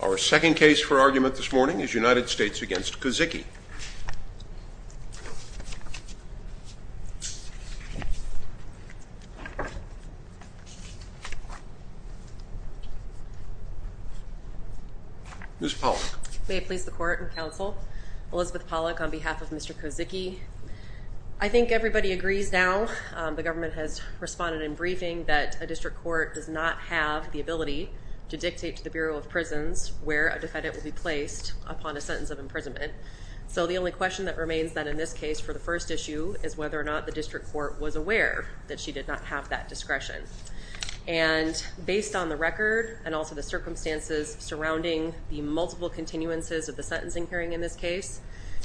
Our second case for argument this morning is United States v. Kozicki Ms. Pollack May it please the Court and Counsel, Elizabeth Pollack on behalf of Mr. Kozicki I think everybody agrees now, the government has responded in briefing, that a district court does not have the ability to dictate to the Bureau of Prisons where a defendant will be placed upon a sentence of imprisonment. So the only question that remains then in this case for the first issue is whether or not the district court was aware that she did not have that discretion. And based on the record and also the circumstances surrounding the multiple continuances of the sentencing hearing in this case,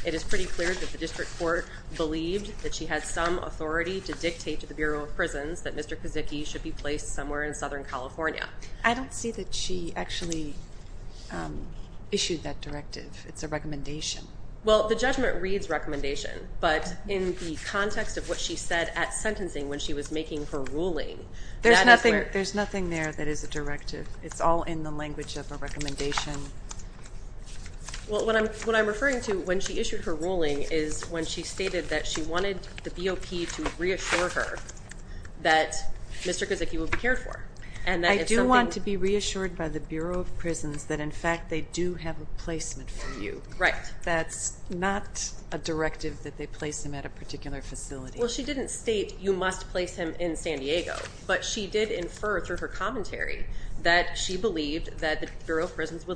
it is pretty clear that the district court believed that she had some authority to dictate to the Bureau of Prisons that Mr. Kozicki should be placed somewhere in Southern California. I don't see that she actually issued that directive. It's a recommendation. Well, the judgment reads recommendation, but in the context of what she said at sentencing when she was making her ruling. There's nothing there that is a directive. It's all in the language of a recommendation. What I'm referring to when she issued her ruling is when she stated that she wanted the BOP to reassure her that Mr. Kozicki would be cared for. I do want to be reassured by the Bureau of Prisons that, in fact, they do have a placement for you. That's not a directive that they place him at a particular facility. Well, she didn't state you must place him in San Diego, but she did infer through her commentary that she believed that the Bureau of Prisons So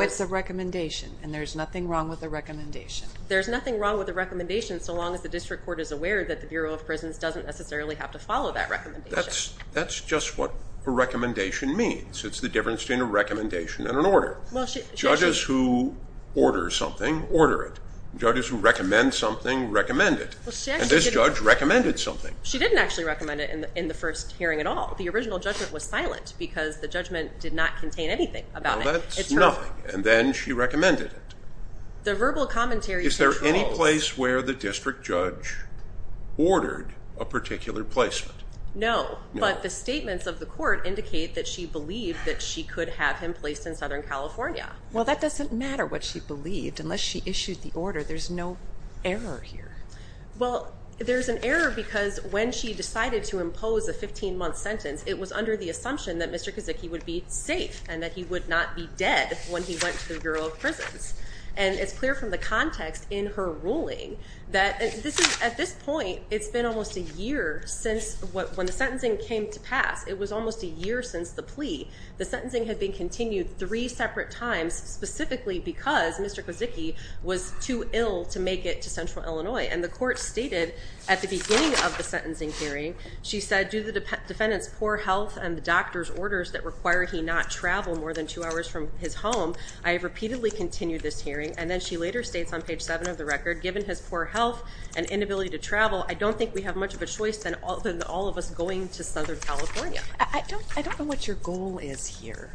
it's a recommendation, and there's nothing wrong with a recommendation. There's nothing wrong with a recommendation so long as the district court is aware that the Bureau of Prisons doesn't necessarily have to follow that recommendation. That's just what a recommendation means. It's the difference between a recommendation and an order. Judges who order something order it. Judges who recommend something recommend it. And this judge recommended something. She didn't actually recommend it in the first hearing at all. The original judgment was silent because the judgment did not contain anything about it. Well, that's nothing, and then she recommended it. The verbal commentary is controlled. Is there any place where the district judge ordered a particular placement? No, but the statements of the court indicate that she believed that she could have him placed in Southern California. Well, that doesn't matter what she believed unless she issued the order. There's no error here. Well, there's an error because when she decided to impose a 15-month sentence, it was under the assumption that Mr. Kozicki would be safe and that he would not be dead when he went to the Bureau of Prisons. And it's clear from the context in her ruling that at this point, it's been almost a year since when the sentencing came to pass. It was almost a year since the plea. The sentencing had been continued three separate times, specifically because Mr. Kozicki was too ill to make it to Central Illinois. And the court stated at the beginning of the sentencing hearing, she said, I do the defendant's poor health and the doctor's orders that require he not travel more than two hours from his home. I have repeatedly continued this hearing. And then she later states on page 7 of the record, given his poor health and inability to travel, I don't think we have much of a choice than all of us going to Southern California. I don't know what your goal is here.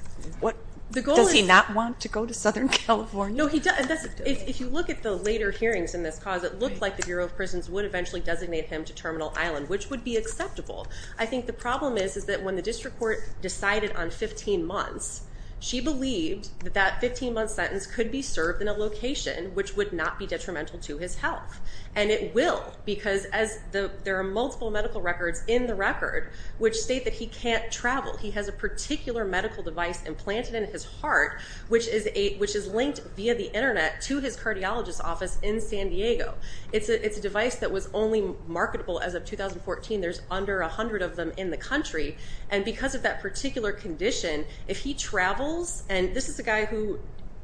Does he not want to go to Southern California? No, he doesn't. If you look at the later hearings in this cause, it looked like the Bureau of Prisons would eventually designate him to Terminal Island, which would be acceptable. I think the problem is that when the district court decided on 15 months, she believed that that 15-month sentence could be served in a location which would not be detrimental to his health. And it will because there are multiple medical records in the record which state that he can't travel. He has a particular medical device implanted in his heart, which is linked via the Internet to his cardiologist's office in San Diego. It's a device that was only marketable as of 2014. There's under 100 of them in the country. And because of that particular condition, if he travels, and this is a guy who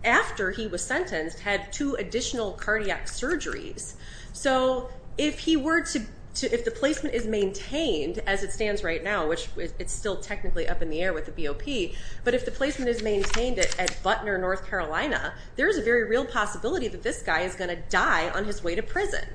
after he was sentenced had two additional cardiac surgeries. So if he were to, if the placement is maintained as it stands right now, which it's still technically up in the air with the BOP, but if the placement is maintained at Butner, North Carolina, there's a very real possibility that this guy is going to die on his way to prison.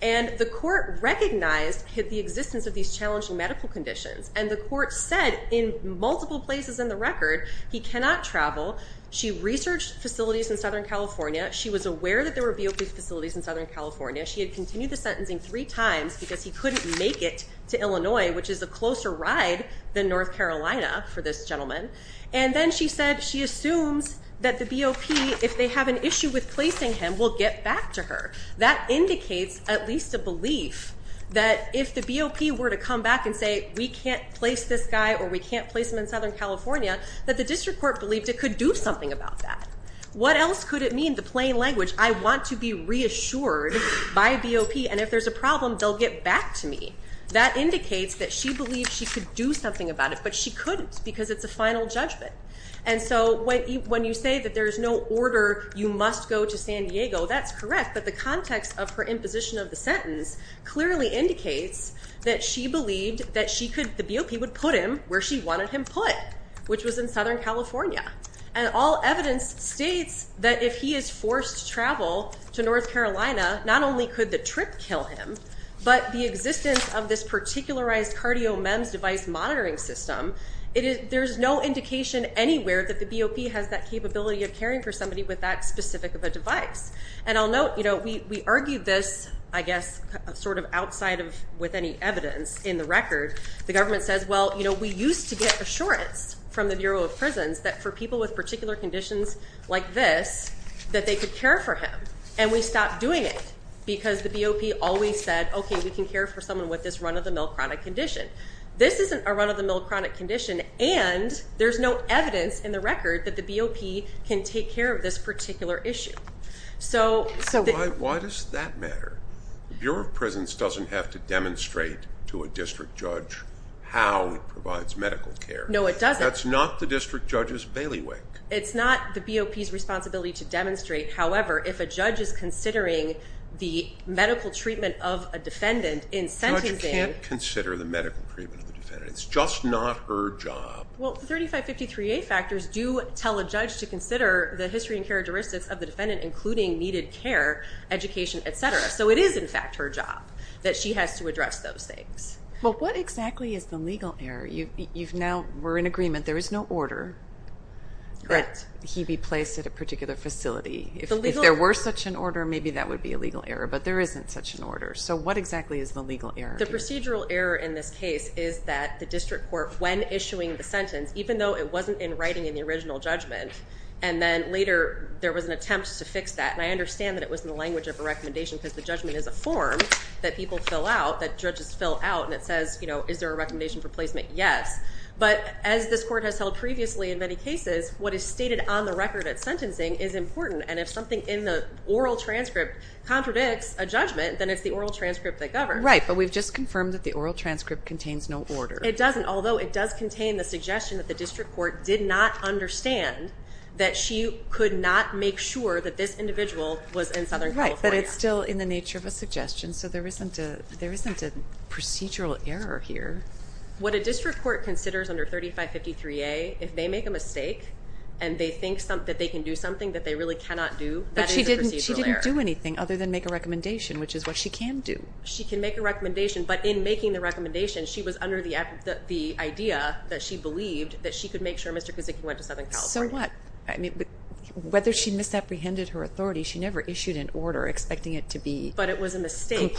And the court recognized the existence of these challenging medical conditions. And the court said in multiple places in the record he cannot travel. She researched facilities in Southern California. She was aware that there were BOP facilities in Southern California. She had continued the sentencing three times because he couldn't make it to Illinois, which is a closer ride than North Carolina for this gentleman. And then she said she assumes that the BOP, if they have an issue with placing him, will get back to her. That indicates at least a belief that if the BOP were to come back and say, we can't place this guy or we can't place him in Southern California, that the district court believed it could do something about that. What else could it mean? The plain language, I want to be reassured by BOP. And if there's a problem, they'll get back to me. That indicates that she believed she could do something about it, but she couldn't because it's a final judgment. And so when you say that there's no order, you must go to San Diego, that's correct. But the context of her imposition of the sentence clearly indicates that she believed that the BOP would put him where she wanted him put, which was in Southern California. And all evidence states that if he is forced to travel to North Carolina, not only could the trip kill him, but the existence of this particularized cardio MEMS device monitoring system, there's no indication anywhere that the BOP has that capability of caring for somebody with that specific of a device. And I'll note, we argued this, I guess, sort of outside of with any evidence in the record. The government says, well, we used to get assurance from the Bureau of Prisons that for people with particular conditions like this, that they could care for him. And we stopped doing it because the BOP always said, okay, we can care for someone with this run-of-the-mill chronic condition. This isn't a run-of-the-mill chronic condition, and there's no evidence in the record that the BOP can take care of this particular issue. So why does that matter? The Bureau of Prisons doesn't have to demonstrate to a district judge how it provides medical care. No, it doesn't. That's not the district judge's bailiwick. It's not the BOP's responsibility to demonstrate. However, if a judge is considering the medical treatment of a defendant in sentencing. A judge can't consider the medical treatment of a defendant. It's just not her job. Well, the 3553A factors do tell a judge to consider the history and characteristics of the defendant, including needed care, education, et cetera. So it is, in fact, her job that she has to address those things. Well, what exactly is the legal error? You've now, we're in agreement. There is no order that he be placed at a particular facility. If there were such an order, maybe that would be a legal error. But there isn't such an order. So what exactly is the legal error? The procedural error in this case is that the district court, when issuing the sentence, even though it wasn't in writing in the original judgment, and then later there was an attempt to fix that. And I understand that it was in the language of a recommendation because the judgment is a form that people fill out, that judges fill out, and it says, you know, is there a recommendation for placement? Yes. But as this court has held previously in many cases, what is stated on the record at sentencing is important. And if something in the oral transcript contradicts a judgment, then it's the oral transcript that governs. Right. But we've just confirmed that the oral transcript contains no order. It doesn't, although it does contain the suggestion that the district court did not understand that she could not make sure that this individual was in Southern California. Right. But it's still in the nature of a suggestion. So there isn't a procedural error here. What a district court considers under 3553A, if they make a mistake and they think that they can do something that they really cannot do, that is a procedural error. But she didn't do anything other than make a recommendation, which is what she can do. She can make a recommendation, but in making the recommendation, she was under the idea that she believed that she could make sure Mr. Kozicki went to Southern California. So what? I mean, whether she misapprehended her authority, she never issued an order expecting it to be complied with. But it was a mistake,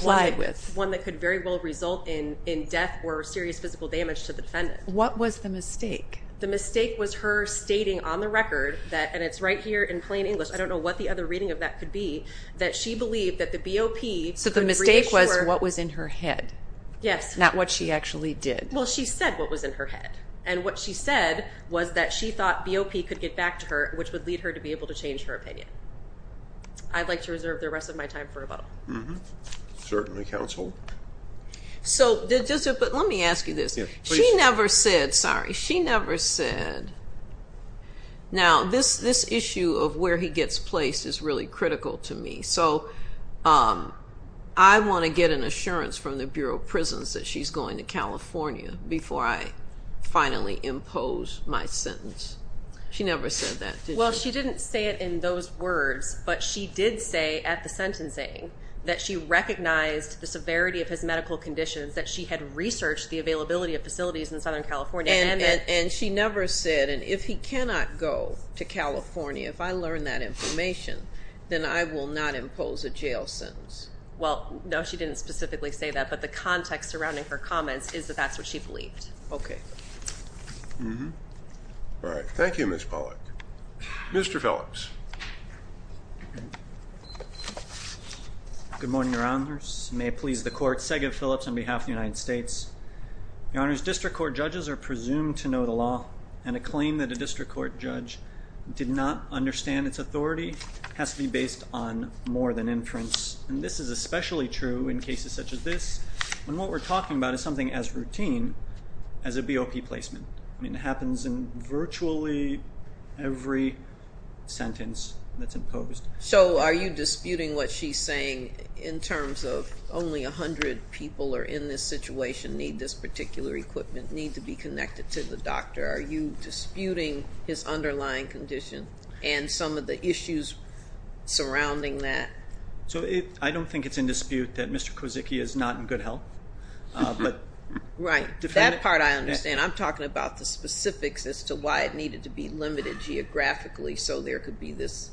one that could very well result in death or serious physical damage to the defendant. What was the mistake? The mistake was her stating on the record that, and it's right here in plain English, I don't know what the other reading of that could be, that she believed that the BOP could reassure. So the mistake was what was in her head. Yes. Not what she actually did. Well, she said what was in her head. And what she said was that she thought BOP could get back to her, which would lead her to be able to change her opinion. I'd like to reserve the rest of my time for rebuttal. Mm-hmm. Certainly, counsel. So let me ask you this. She never said, sorry, she never said, now this issue of where he gets placed is really critical to me. So I want to get an assurance from the Bureau of Prisons that she's going to California before I finally impose my sentence. She never said that, did she? Well, she didn't say it in those words, but she did say at the sentencing that she recognized the severity of his medical conditions, that she had researched the availability of facilities in Southern California. And she never said, and if he cannot go to California, if I learn that information, then I will not impose a jail sentence. Well, no, she didn't specifically say that, but the context surrounding her comments is that that's what she believed. Okay. Mm-hmm. All right. Thank you, Ms. Pollack. Mr. Phillips. Good morning, Your Honors. May it please the Court, Segev Phillips on behalf of the United States. Your Honors, district court judges are presumed to know the law, and a claim that a district court judge did not understand its authority has to be based on more than inference. And this is especially true in cases such as this, when what we're talking about is something as routine as a BOP placement. I mean, it happens in virtually every sentence that's imposed. So are you disputing what she's saying in terms of only 100 people are in this situation, need this particular equipment, need to be connected to the doctor? Are you disputing his underlying condition and some of the issues surrounding that? So I don't think it's in dispute that Mr. Kozicki is not in good health. Right. That part I understand. I'm talking about the specifics as to why it needed to be limited geographically so there could be this.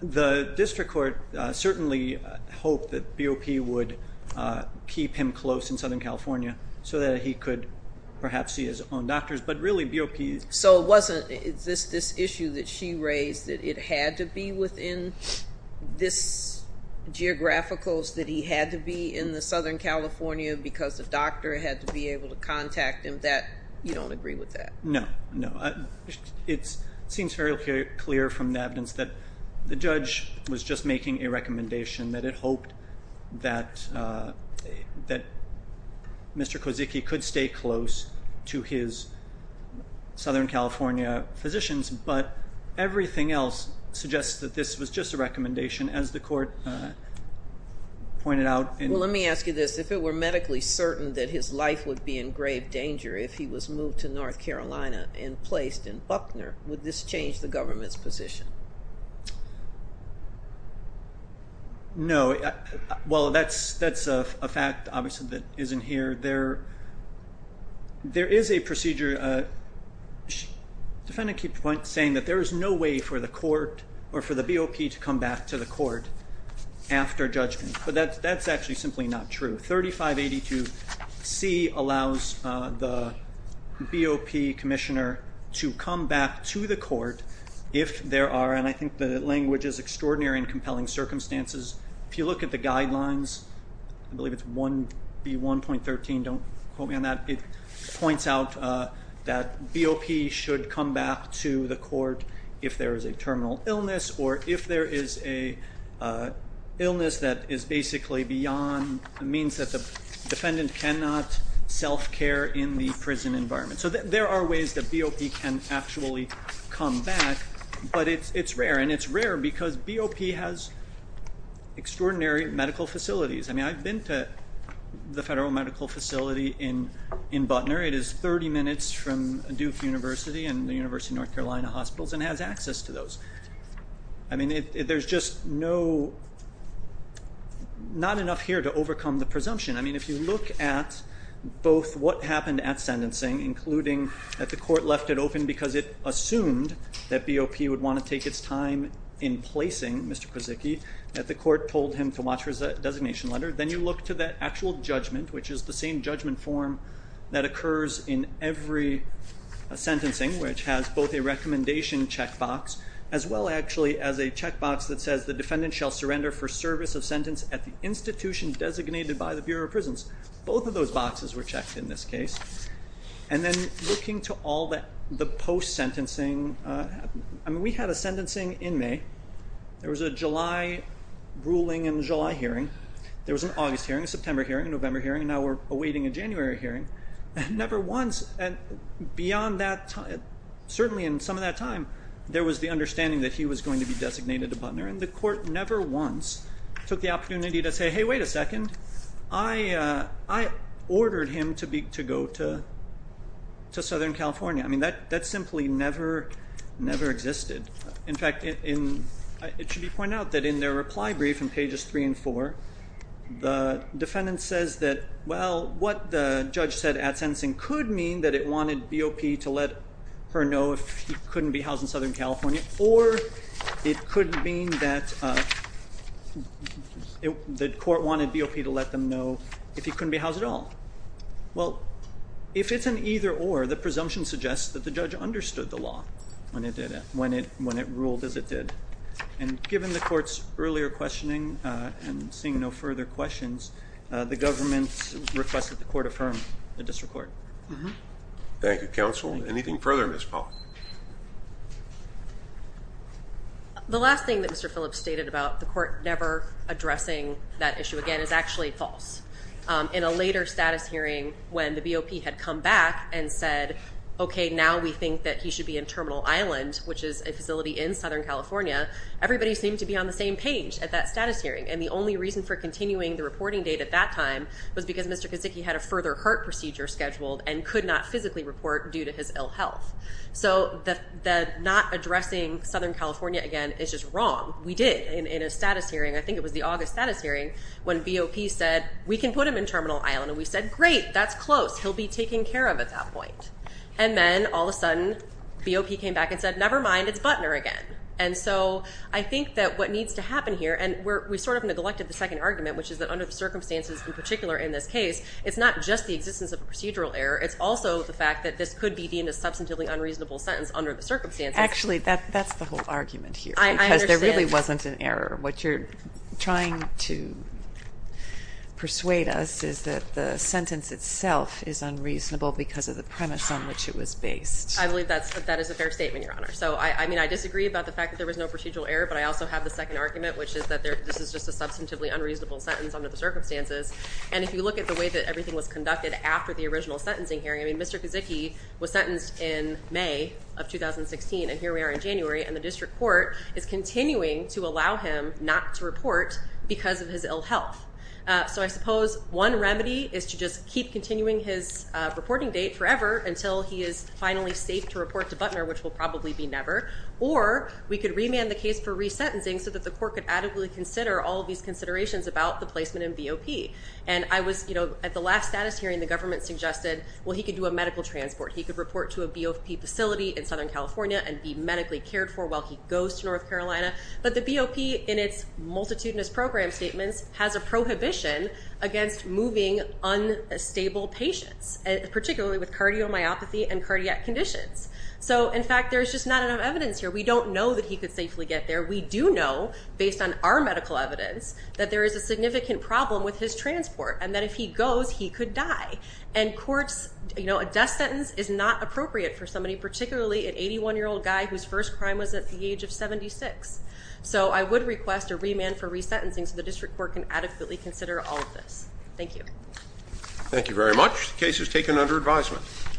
The district court certainly hoped that BOP would keep him close in Southern California so that he could perhaps see his own doctors. But really, BOP is. So it wasn't this issue that she raised, that it had to be within this geographical, that he had to be in the Southern California because the doctor had to be able to contact him. You don't agree with that? No. No. It seems very clear from the evidence that the judge was just making a recommendation that it hoped that Mr. Kozicki could stay close to his Southern California physicians. But everything else suggests that this was just a recommendation, as the court pointed out. Well, let me ask you this. If it were medically certain that his life would be in grave danger if he was moved to North Carolina and placed in Buckner, would this change the government's position? No. Well, that's a fact, obviously, that isn't here. There is a procedure. The defendant keeps saying that there is no way for the court or for the BOP to come back to the court after judgment. But that's actually simply not true. 3582C allows the BOP commissioner to come back to the court if there are, and I think the language is extraordinary and compelling circumstances. If you look at the guidelines, I believe it's 1B1.13. Don't quote me on that. It points out that BOP should come back to the court if there is a terminal illness or if there is an illness that is basically beyond the means that the defendant cannot self-care in the prison environment. So there are ways that BOP can actually come back, but it's rare. And it's rare because BOP has extraordinary medical facilities. I mean, I've been to the federal medical facility in Buckner. It is 30 minutes from Duke University and the University of North Carolina hospitals and has access to those. I mean, there's just not enough here to overcome the presumption. I mean, if you look at both what happened at sentencing, including that the court left it open because it assumed that BOP would want to take its time in placing Mr. Krasicki, that the court told him to watch his designation letter. Then you look to the actual judgment, which is the same judgment form that occurs in every sentencing, which has both a recommendation checkbox as well, actually, as a checkbox that says the defendant shall surrender for service of sentence at the institution designated by the Bureau of Prisons. Both of those boxes were checked in this case. And then looking to all the post-sentencing, I mean, we had a sentencing in May. There was a July ruling and a July hearing. There was an August hearing, a September hearing, a November hearing, and now we're awaiting a January hearing. And never once beyond that time, certainly in some of that time, there was the understanding that he was going to be designated a butler. And the court never once took the opportunity to say, hey, wait a second, I ordered him to go to Southern California. I mean, that simply never existed. In fact, it should be pointed out that in their reply brief in pages 3 and 4, the defendant says that, well, what the judge said at sentencing could mean that it wanted BOP to let her know if he couldn't be housed in Southern California, or it could mean that the court wanted BOP to let them know if he couldn't be housed at all. Well, if it's an either-or, the presumption suggests that the judge understood the law when it ruled as it did. And given the court's earlier questioning and seeing no further questions, the government requested the court affirm the disreport. Thank you, counsel. Anything further, Ms. Pollack? The last thing that Mr. Phillips stated about the court never addressing that issue again is actually false. In a later status hearing when the BOP had come back and said, okay, now we think that he should be in Terminal Island, which is a facility in Southern California, everybody seemed to be on the same page at that status hearing. And the only reason for continuing the reporting date at that time was because Mr. Kaczynski had a further heart procedure scheduled and could not physically report due to his ill health. So the not addressing Southern California again is just wrong. We did in a status hearing, I think it was the August status hearing, when BOP said, we can put him in Terminal Island. And we said, great, that's close. He'll be taken care of at that point. And then all of a sudden BOP came back and said, never mind, it's Butner again. And so I think that what needs to happen here, and we sort of neglected the second argument, which is that under the circumstances in particular in this case, it's not just the existence of a procedural error, it's also the fact that this could be deemed a substantively unreasonable sentence under the circumstances. Actually, that's the whole argument here. I understand. Because there really wasn't an error. What you're trying to persuade us is that the sentence itself is unreasonable because of the premise on which it was based. I believe that is a fair statement, Your Honor. So, I mean, I disagree about the fact that there was no procedural error, but I also have the second argument, which is that this is just a substantively unreasonable sentence under the circumstances. And if you look at the way that everything was conducted after the original sentencing hearing, I mean, Mr. Kaczynski was sentenced in May of 2016, and here we are in January, and the district court is continuing to allow him not to report because of his ill health. So I suppose one remedy is to just keep continuing his reporting date forever until he is finally safe to report to Butner, which will probably be never. Or we could remand the case for resentencing so that the court could adequately consider all of these considerations about the placement in BOP. And I was, you know, at the last status hearing, the government suggested, well, he could do a medical transport. He could report to a BOP facility in Southern California and be medically cared for while he goes to North Carolina. But the BOP, in its multitudinous program statements, has a prohibition against moving unstable patients, particularly with cardiomyopathy and cardiac conditions. So, in fact, there's just not enough evidence here. We don't know that he could safely get there. We do know, based on our medical evidence, that there is a significant problem with his transport and that if he goes, he could die. And courts, you know, a death sentence is not appropriate for somebody, particularly an 81-year-old guy whose first crime was at the age of 76. So I would request a remand for resentencing so the district court can adequately consider all of this. Thank you. Thank you very much. The case is taken under advisement.